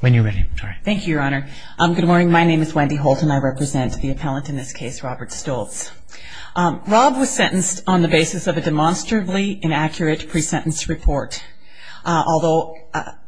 When you're ready, sorry. Thank you, Your Honor. Good morning, my name is Wendy Holt and I represent the appellant in this case, Robert Stoltz. Rob was sentenced on the basis of a demonstrably inaccurate pre-sentence report. Although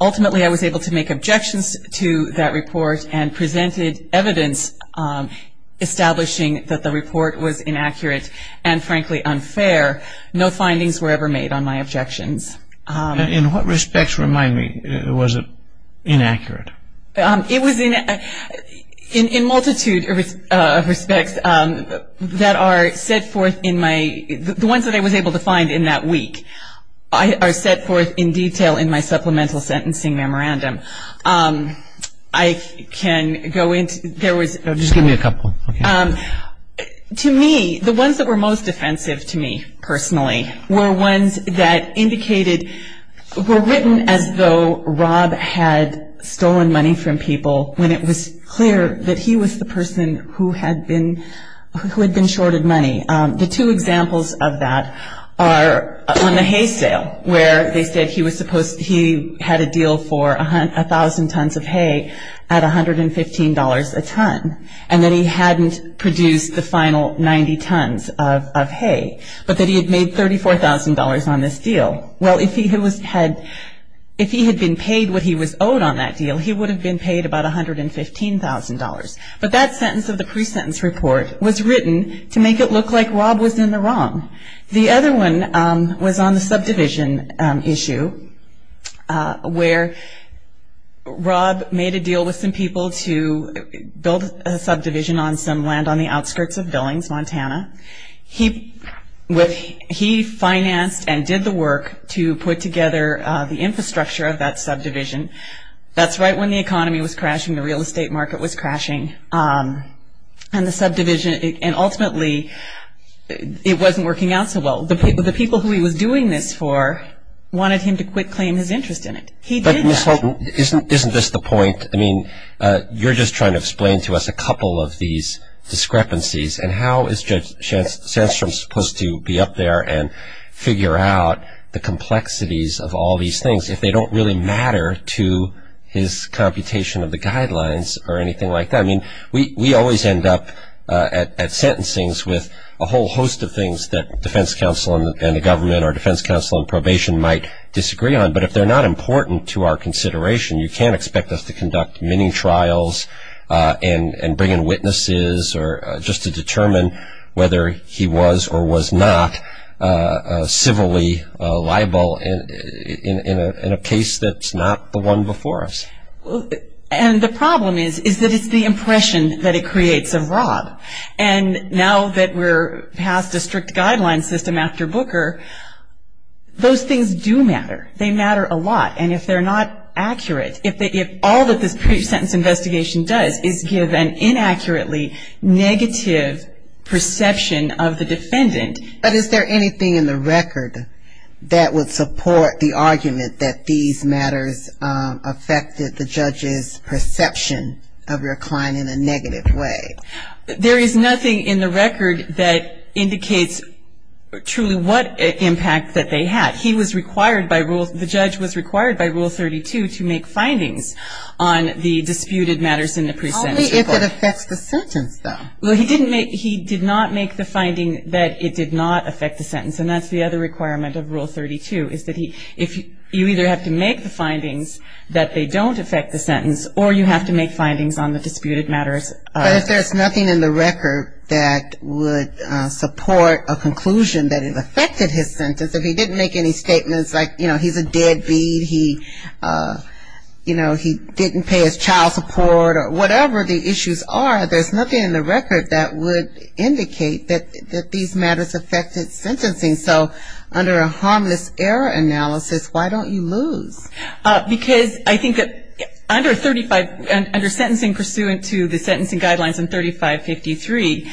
ultimately I was able to make objections to that report and presented evidence establishing that the report was inaccurate and frankly unfair, no findings were ever made on my objections. In what respects, remind me, was it inaccurate? It was in multitude of respects that are set forth in my, the ones that I was able to find in that week, are set forth in detail in my supplemental sentencing memorandum. I can go into, there was. Just give me a couple. To me, the ones that were most offensive to me personally were ones that indicated, were written as though Rob had stolen money from people when it was clear that he was the person who had been, who had been shorted money. The two examples of that are on the hay sale where they said he was supposed, he had a deal for 1,000 tons of hay at $115 a ton. And that he hadn't produced the final 90 tons of hay. But that he had made $34,000 on this deal. Well, if he had been paid what he was owed on that deal, he would have been paid about $115,000. But that sentence of the pre-sentence report was written to make it look like Rob was in the wrong. The other one was on the subdivision issue where Rob made a deal with some people to build a subdivision on some land on the outskirts of Billings, Montana. He financed and did the work to put together the infrastructure of that subdivision. That's right when the economy was crashing, the real estate market was crashing. And the subdivision, and ultimately it wasn't working out so well. The people who he was doing this for wanted him to quit claiming his interest in it. He didn't. But Ms. Holton, isn't this the point? I mean, you're just trying to explain to us a couple of these discrepancies. And how is Judge Sandstrom supposed to be up there and figure out the complexities of all these things if they don't really matter to his computation of the guidelines or anything like that? I mean, we always end up at sentencings with a whole host of things that defense counsel and the government or defense counsel in probation might disagree on. But if they're not important to our consideration, you can't expect us to conduct many trials and bring in witnesses just to determine whether he was or was not civilly liable in a case that's not the one before us. And the problem is, is that it's the impression that it creates of Rob. And now that we're past a strict guideline system after Booker, those things do matter. They matter a lot. And if they're not accurate, if all that this pre-sentence investigation does is give an inaccurately negative perception of the defendant. But is there anything in the record that would support the argument that these matters affected the judge's perception of your client in a negative way? There is nothing in the record that indicates truly what impact that they had. He was required by Rule 32 to make findings on the disputed matters in the pre-sentence report. Only if it affects the sentence, though. Well, he did not make the finding that it did not affect the sentence. And that's the other requirement of Rule 32, is that you either have to make the findings that they don't affect the sentence, or you have to make findings on the disputed matters. But if there's nothing in the record that would support a conclusion that it affected his sentence, if he didn't make any statements like, you know, he's a deadbeat, he didn't pay his child support or whatever the issues are, there's nothing in the record that would indicate that these matters affected sentencing. So under a harmless error analysis, why don't you lose? Because I think that under sentencing pursuant to the sentencing guidelines in 3553,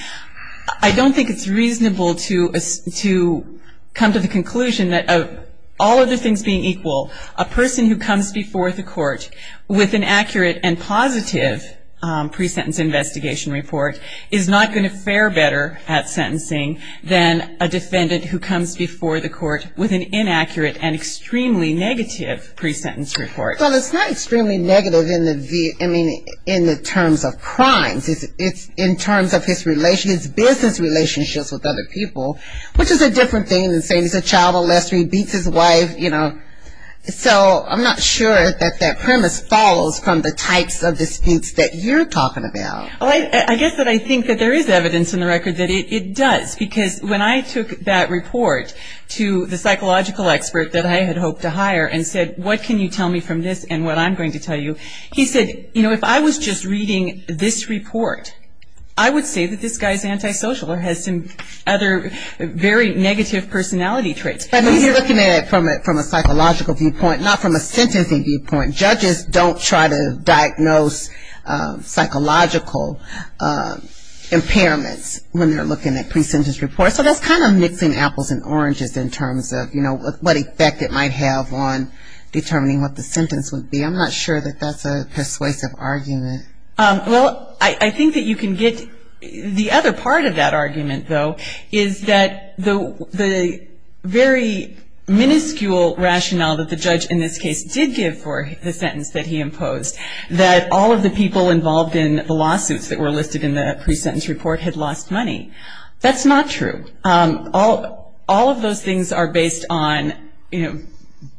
I don't think it's reasonable to come to the conclusion that of all other things being equal, a person who comes before the court with an accurate and positive pre-sentence investigation report is not going to fare better at sentencing than a defendant who comes before the court with an inaccurate and extremely negative pre-sentence report. Well, it's not extremely negative in the terms of crimes. It's in terms of his business relationships with other people, which is a different thing than saying he's a child molester, he beats his wife, you know. So I'm not sure that that premise follows from the types of disputes that you're talking about. Well, I guess that I think that there is evidence in the record that it does, because when I took that report to the psychological expert that I had hoped to hire and said, what can you tell me from this and what I'm going to tell you, he said, you know, if I was just reading this report, I would say that this guy is antisocial or has some other very negative personality traits. But he's looking at it from a psychological viewpoint, not from a sentencing viewpoint. Judges don't try to diagnose psychological impairments when they're looking at pre-sentence reports. So that's kind of mixing apples and oranges in terms of, you know, what effect it might have on determining what the sentence would be. I'm not sure that that's a persuasive argument. Well, I think that you can get the other part of that argument, though, is that the very minuscule rationale that the judge in this case did give for the sentence that he imposed, that all of the people involved in the lawsuits that were listed in the pre-sentence report had lost money. That's not true. All of those things are based on, you know,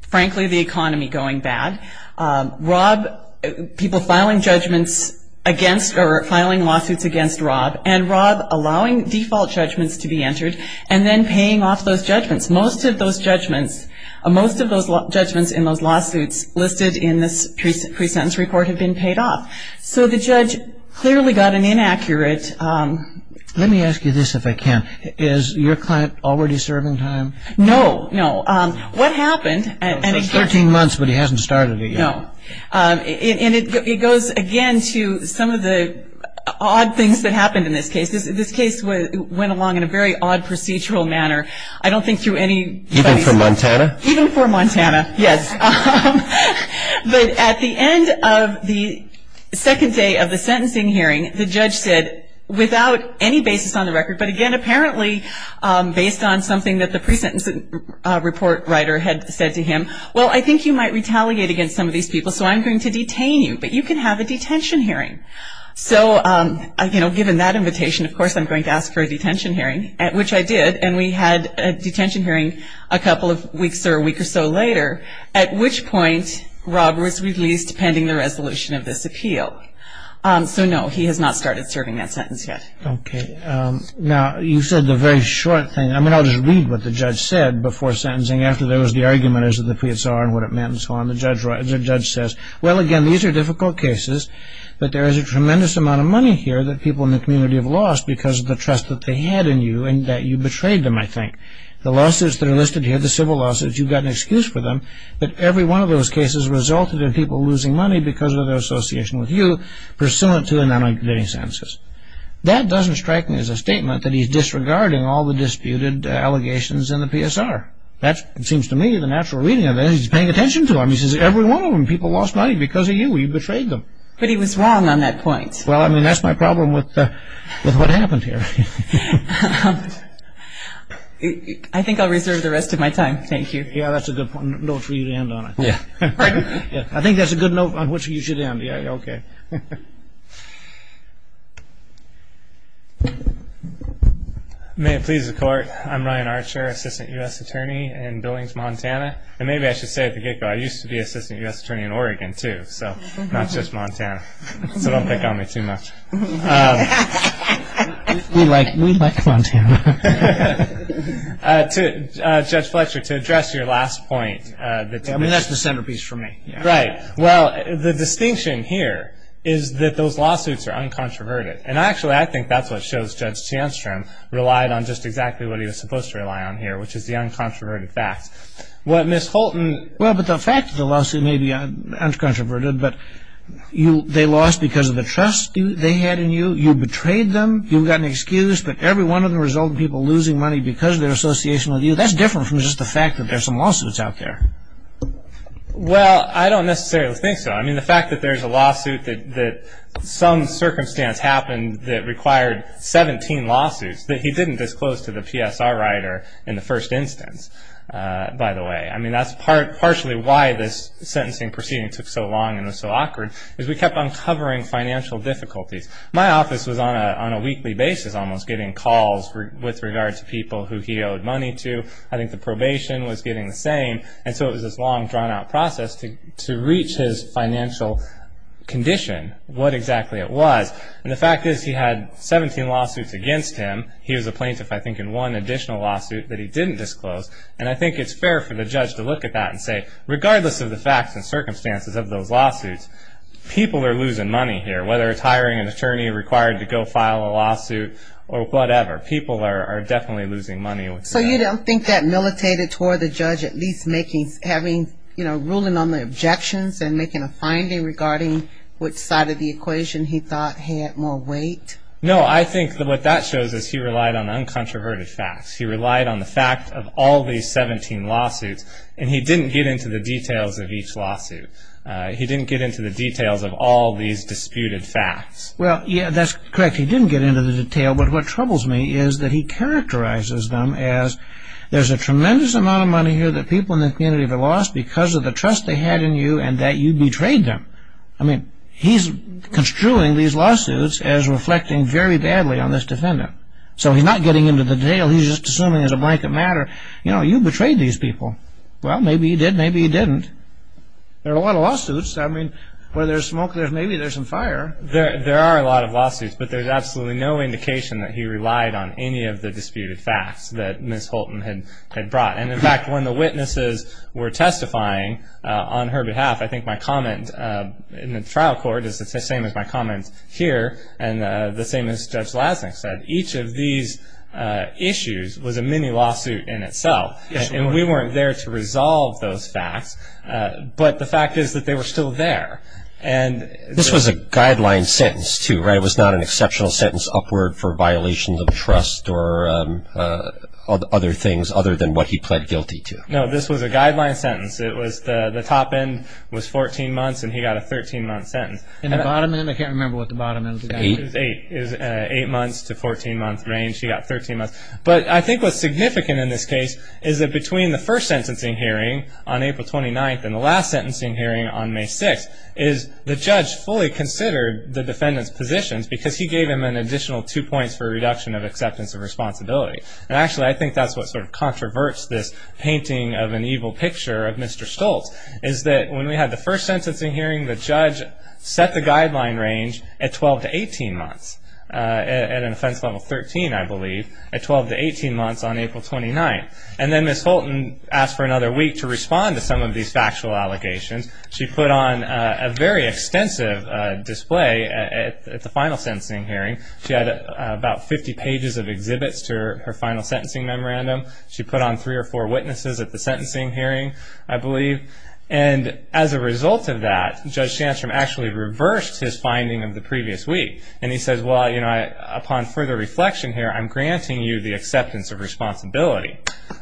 frankly, the economy going bad. Rob, people filing judgments against or filing lawsuits against Rob, and Rob allowing default judgments to be entered and then paying off those judgments. Most of those judgments in those lawsuits listed in this pre-sentence report have been paid off. So the judge clearly got an inaccurate. Let me ask you this, if I can. Is your client already serving time? No, no. What happened? It says 13 months, but he hasn't started it yet. No. And it goes, again, to some of the odd things that happened in this case. This case went along in a very odd procedural manner. I don't think through anybody's- Even for Montana? Even for Montana, yes. But at the end of the second day of the sentencing hearing, the judge said, without any basis on the record, but, again, apparently based on something that the pre-sentence report writer had said to him, well, I think you might retaliate against some of these people, so I'm going to detain you, but you can have a detention hearing. So, you know, given that invitation, of course I'm going to ask for a detention hearing, which I did, and we had a detention hearing a couple of weeks or a week or so later, at which point Rob was released pending the resolution of this appeal. So, no, he has not started serving that sentence yet. Okay. Now, you said the very short thing. I mean, I'll just read what the judge said before sentencing, after there was the argument as to the PSR and what it meant and so on. The judge says, well, again, these are difficult cases, but there is a tremendous amount of money here that people in the community have lost because of the trust that they had in you and that you betrayed them, I think. The lawsuits that are listed here, the civil lawsuits, you've got an excuse for them, but every one of those cases resulted in people losing money because of their association with you, pursuant to the non-incriminating sentences. That doesn't strike me as a statement that he's disregarding all the disputed allegations in the PSR. That seems to me the natural reading of it. He's paying attention to them. He says every one of them, people lost money because of you. You betrayed them. But he was wrong on that point. Well, I mean, that's my problem with what happened here. I think I'll reserve the rest of my time. Thank you. Yeah, that's a good note for you to end on, I think. I think that's a good note on which you should end. Yeah, okay. May it please the Court, I'm Ryan Archer, Assistant U.S. Attorney in Billings, Montana. And maybe I should say at the get-go, I used to be Assistant U.S. Attorney in Oregon too, so not just Montana, so don't pick on me too much. We like Montana. Judge Fletcher, to address your last point. I mean, that's the centerpiece for me. Right. Well, the distinction here is that those lawsuits are uncontroverted. And actually, I think that's what shows Judge Sandstrom relied on just exactly what he was supposed to rely on here, which is the uncontroverted facts. What Ms. Holton – Well, but the fact of the lawsuit may be uncontroverted, but they lost because of the trust they had in you. You betrayed them. You've got an excuse that every one of them resulted in people losing money because of their association with you. But that's different from just the fact that there's some lawsuits out there. Well, I don't necessarily think so. I mean, the fact that there's a lawsuit that some circumstance happened that required 17 lawsuits that he didn't disclose to the PSR writer in the first instance, by the way. I mean, that's partially why this sentencing proceeding took so long and was so awkward, is we kept uncovering financial difficulties. My office was on a weekly basis almost getting calls with regard to people who he owed money to. I think the probation was getting the same. And so it was this long, drawn-out process to reach his financial condition, what exactly it was. And the fact is he had 17 lawsuits against him. He was a plaintiff, I think, in one additional lawsuit that he didn't disclose. And I think it's fair for the judge to look at that and say, regardless of the facts and circumstances of those lawsuits, people are losing money here, whether it's hiring an attorney required to go file a lawsuit or whatever. People are definitely losing money. So you don't think that militated toward the judge at least ruling on the objections and making a finding regarding which side of the equation he thought had more weight? No, I think what that shows is he relied on uncontroverted facts. He relied on the fact of all these 17 lawsuits, and he didn't get into the details of each lawsuit. He didn't get into the details of all these disputed facts. Well, yeah, that's correct. He didn't get into the detail. But what troubles me is that he characterizes them as, there's a tremendous amount of money here that people in the community have lost because of the trust they had in you and that you betrayed them. I mean, he's construing these lawsuits as reflecting very badly on this defendant. So he's not getting into the detail. He's just assuming it's a blanket matter. You know, you betrayed these people. Well, maybe he did, maybe he didn't. There are a lot of lawsuits. I mean, where there's smoke, maybe there's some fire. There are a lot of lawsuits, but there's absolutely no indication that he relied on any of the disputed facts that Ms. Holton had brought. And, in fact, when the witnesses were testifying on her behalf, I think my comment in the trial court is the same as my comment here and the same as Judge Lasnik said. Each of these issues was a mini-lawsuit in itself, and we weren't there to resolve those facts. But the fact is that they were still there. This was a guideline sentence, too, right? It was not an exceptional sentence upward for violations of trust or other things other than what he pled guilty to. No, this was a guideline sentence. The top end was 14 months, and he got a 13-month sentence. And the bottom end, I can't remember what the bottom end was. Eight. It was an eight-month to 14-month range. He got 13 months. But I think what's significant in this case is that between the first sentencing hearing on April 29th and the last sentencing hearing on May 6th is the judge fully considered the defendant's positions because he gave him an additional two points for a reduction of acceptance of responsibility. And, actually, I think that's what sort of controverts this painting of an evil picture of Mr. Stoltz, is that when we had the first sentencing hearing, the judge set the guideline range at 12 to 18 months, at an offense level 13, I believe, at 12 to 18 months on April 29th. And then Ms. Holton asked for another week to respond to some of these factual allegations. She put on a very extensive display at the final sentencing hearing. She had about 50 pages of exhibits to her final sentencing memorandum. She put on three or four witnesses at the sentencing hearing, I believe. And as a result of that, Judge Shantrum actually reversed his finding of the previous week. And he says, well, you know, upon further reflection here, I'm granting you the acceptance of responsibility.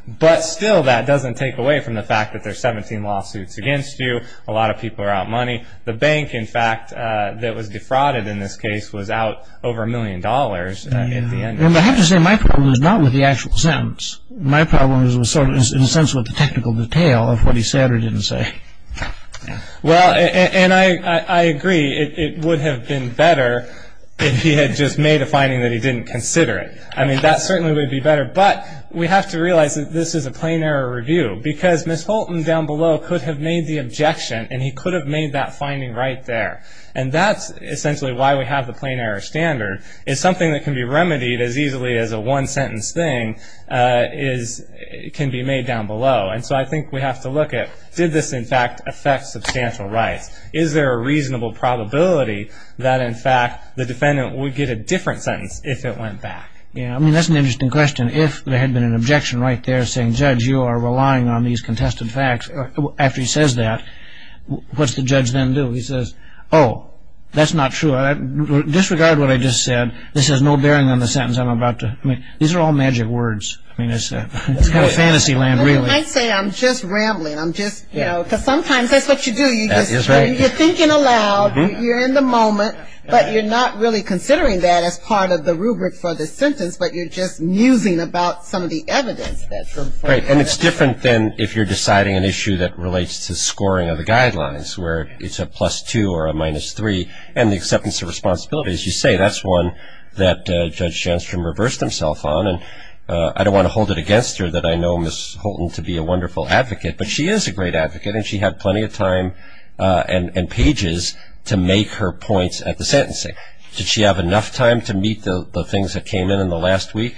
But, still, that doesn't take away from the fact that there are 17 lawsuits against you. A lot of people are out money. The bank, in fact, that was defrauded in this case was out over a million dollars in the end. I have to say my problem was not with the actual sentence. My problem was sort of in a sense with the technical detail of what he said or didn't say. Well, and I agree it would have been better if he had just made a finding that he didn't consider it. I mean, that certainly would be better. But we have to realize that this is a plain error review because Ms. Holton down below could have made the objection. And he could have made that finding right there. And that's essentially why we have the plain error standard. It's something that can be remedied as easily as a one-sentence thing can be made down below. And so I think we have to look at did this, in fact, affect substantial rights? Is there a reasonable probability that, in fact, the defendant would get a different sentence if it went back? Yeah, I mean, that's an interesting question. If there had been an objection right there saying, Judge, you are relying on these contested facts, after he says that, what's the judge then do? He says, oh, that's not true. Disregard what I just said. This has no bearing on the sentence I'm about to – I mean, these are all magic words. I mean, it's kind of fantasy land, really. I might say I'm just rambling. I'm just, you know, because sometimes that's what you do. That is right. You're thinking aloud. You're in the moment. But you're not really considering that as part of the rubric for the sentence, but you're just musing about some of the evidence that's in front of you. And it's different than if you're deciding an issue that relates to scoring of the guidelines, where it's a plus 2 or a minus 3 and the acceptance of responsibility. As you say, that's one that Judge Shandstrom reversed himself on. I don't want to hold it against her that I know Ms. Houlton to be a wonderful advocate, but she is a great advocate, and she had plenty of time and pages to make her points at the sentencing. Did she have enough time to meet the things that came in in the last week?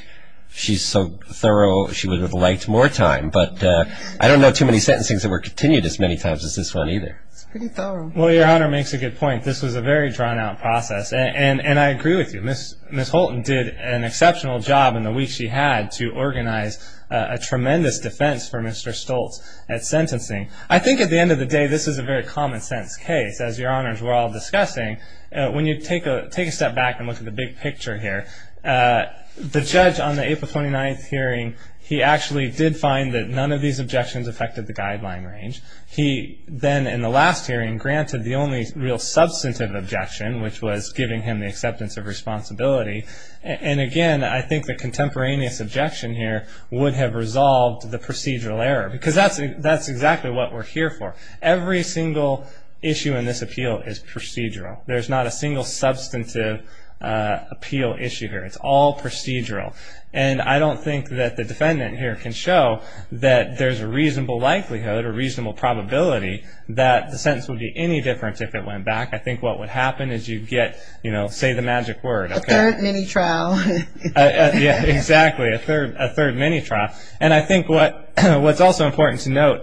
She's so thorough, she would have liked more time. But I don't know too many sentencings that were continued as many times as this one either. It's pretty thorough. Well, Your Honor makes a good point. This was a very drawn-out process, and I agree with you. Ms. Houlton did an exceptional job in the week she had to organize a tremendous defense for Mr. Stoltz at sentencing. I think at the end of the day this is a very common-sense case, as Your Honors were all discussing. When you take a step back and look at the big picture here, the judge on the April 29th hearing, he actually did find that none of these objections affected the guideline range. He then, in the last hearing, granted the only real substantive objection, which was giving him the acceptance of responsibility. And again, I think the contemporaneous objection here would have resolved the procedural error, because that's exactly what we're here for. Every single issue in this appeal is procedural. There's not a single substantive appeal issue here. It's all procedural. And I don't think that the defendant here can show that there's a reasonable likelihood or reasonable probability that the sentence would be any different if it went back. I think what would happen is you'd get, you know, say the magic word. A third mini-trial. Yeah, exactly, a third mini-trial. And I think what's also important to note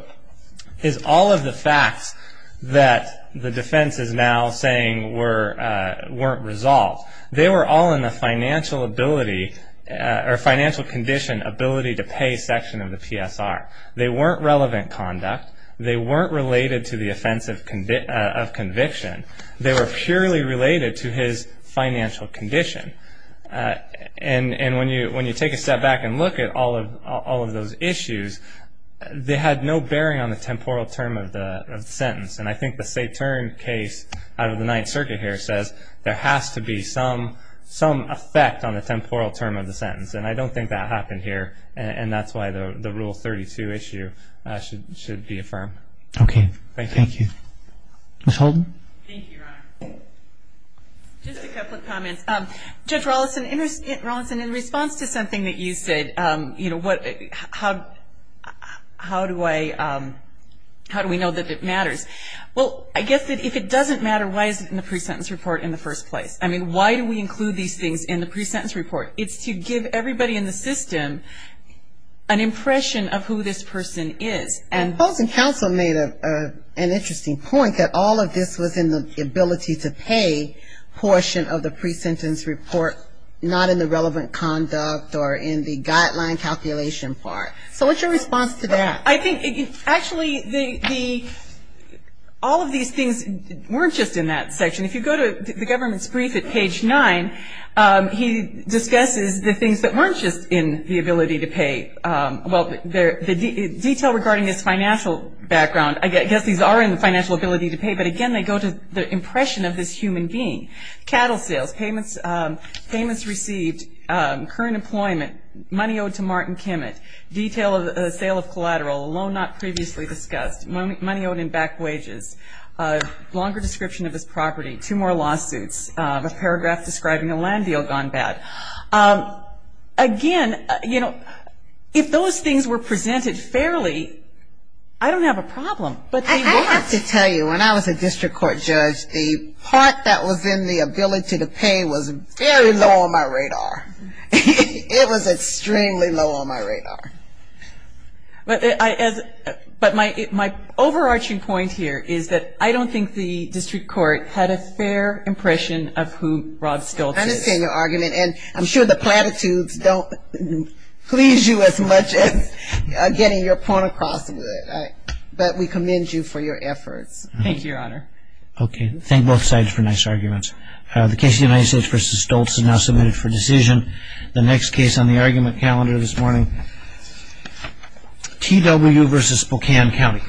is all of the facts that the defense is now saying weren't resolved. They were all in the financial ability or financial condition ability to pay section of the PSR. They weren't relevant conduct. They weren't related to the offense of conviction. They were purely related to his financial condition. And when you take a step back and look at all of those issues, they had no bearing on the temporal term of the sentence. And I think the Saturn case out of the Ninth Circuit here says there has to be some effect on the temporal term of the sentence. And I don't think that happened here. And that's why the Rule 32 issue should be affirmed. Okay. Thank you. Ms. Holden. Thank you, Your Honor. Just a couple of comments. Judge Rawlinson, in response to something that you said, you know, how do we know that it matters? Well, I guess if it doesn't matter, why is it in the pre-sentence report in the first place? I mean, why do we include these things in the pre-sentence report? It's to give everybody in the system an impression of who this person is. Counsel made an interesting point that all of this was in the ability to pay portion of the pre-sentence report, not in the relevant conduct or in the guideline calculation part. So what's your response to that? I think actually all of these things weren't just in that section. If you go to the government's brief at page 9, he discusses the things that weren't just in the ability to pay. Well, the detail regarding his financial background, I guess these are in the financial ability to pay, but again they go to the impression of this human being. Cattle sales, payments received, current employment, money owed to Martin Kemet, detail of the sale of collateral, loan not previously discussed, money owed in back wages, longer description of his property, two more lawsuits, a paragraph describing a land deal gone bad. Again, you know, if those things were presented fairly, I don't have a problem. I have to tell you, when I was a district court judge, the part that was in the ability to pay was very low on my radar. It was extremely low on my radar. But my overarching point here is that I don't think the district court had a fair impression of who Rod Stoltz is. I understand your argument. And I'm sure the platitudes don't please you as much as getting your point across would. But we commend you for your efforts. Thank you, Your Honor. Okay. Thank both sides for nice arguments. The case of United States v. Stoltz is now submitted for decision. The next case on the argument calendar this morning, T.W. v. Spokane County.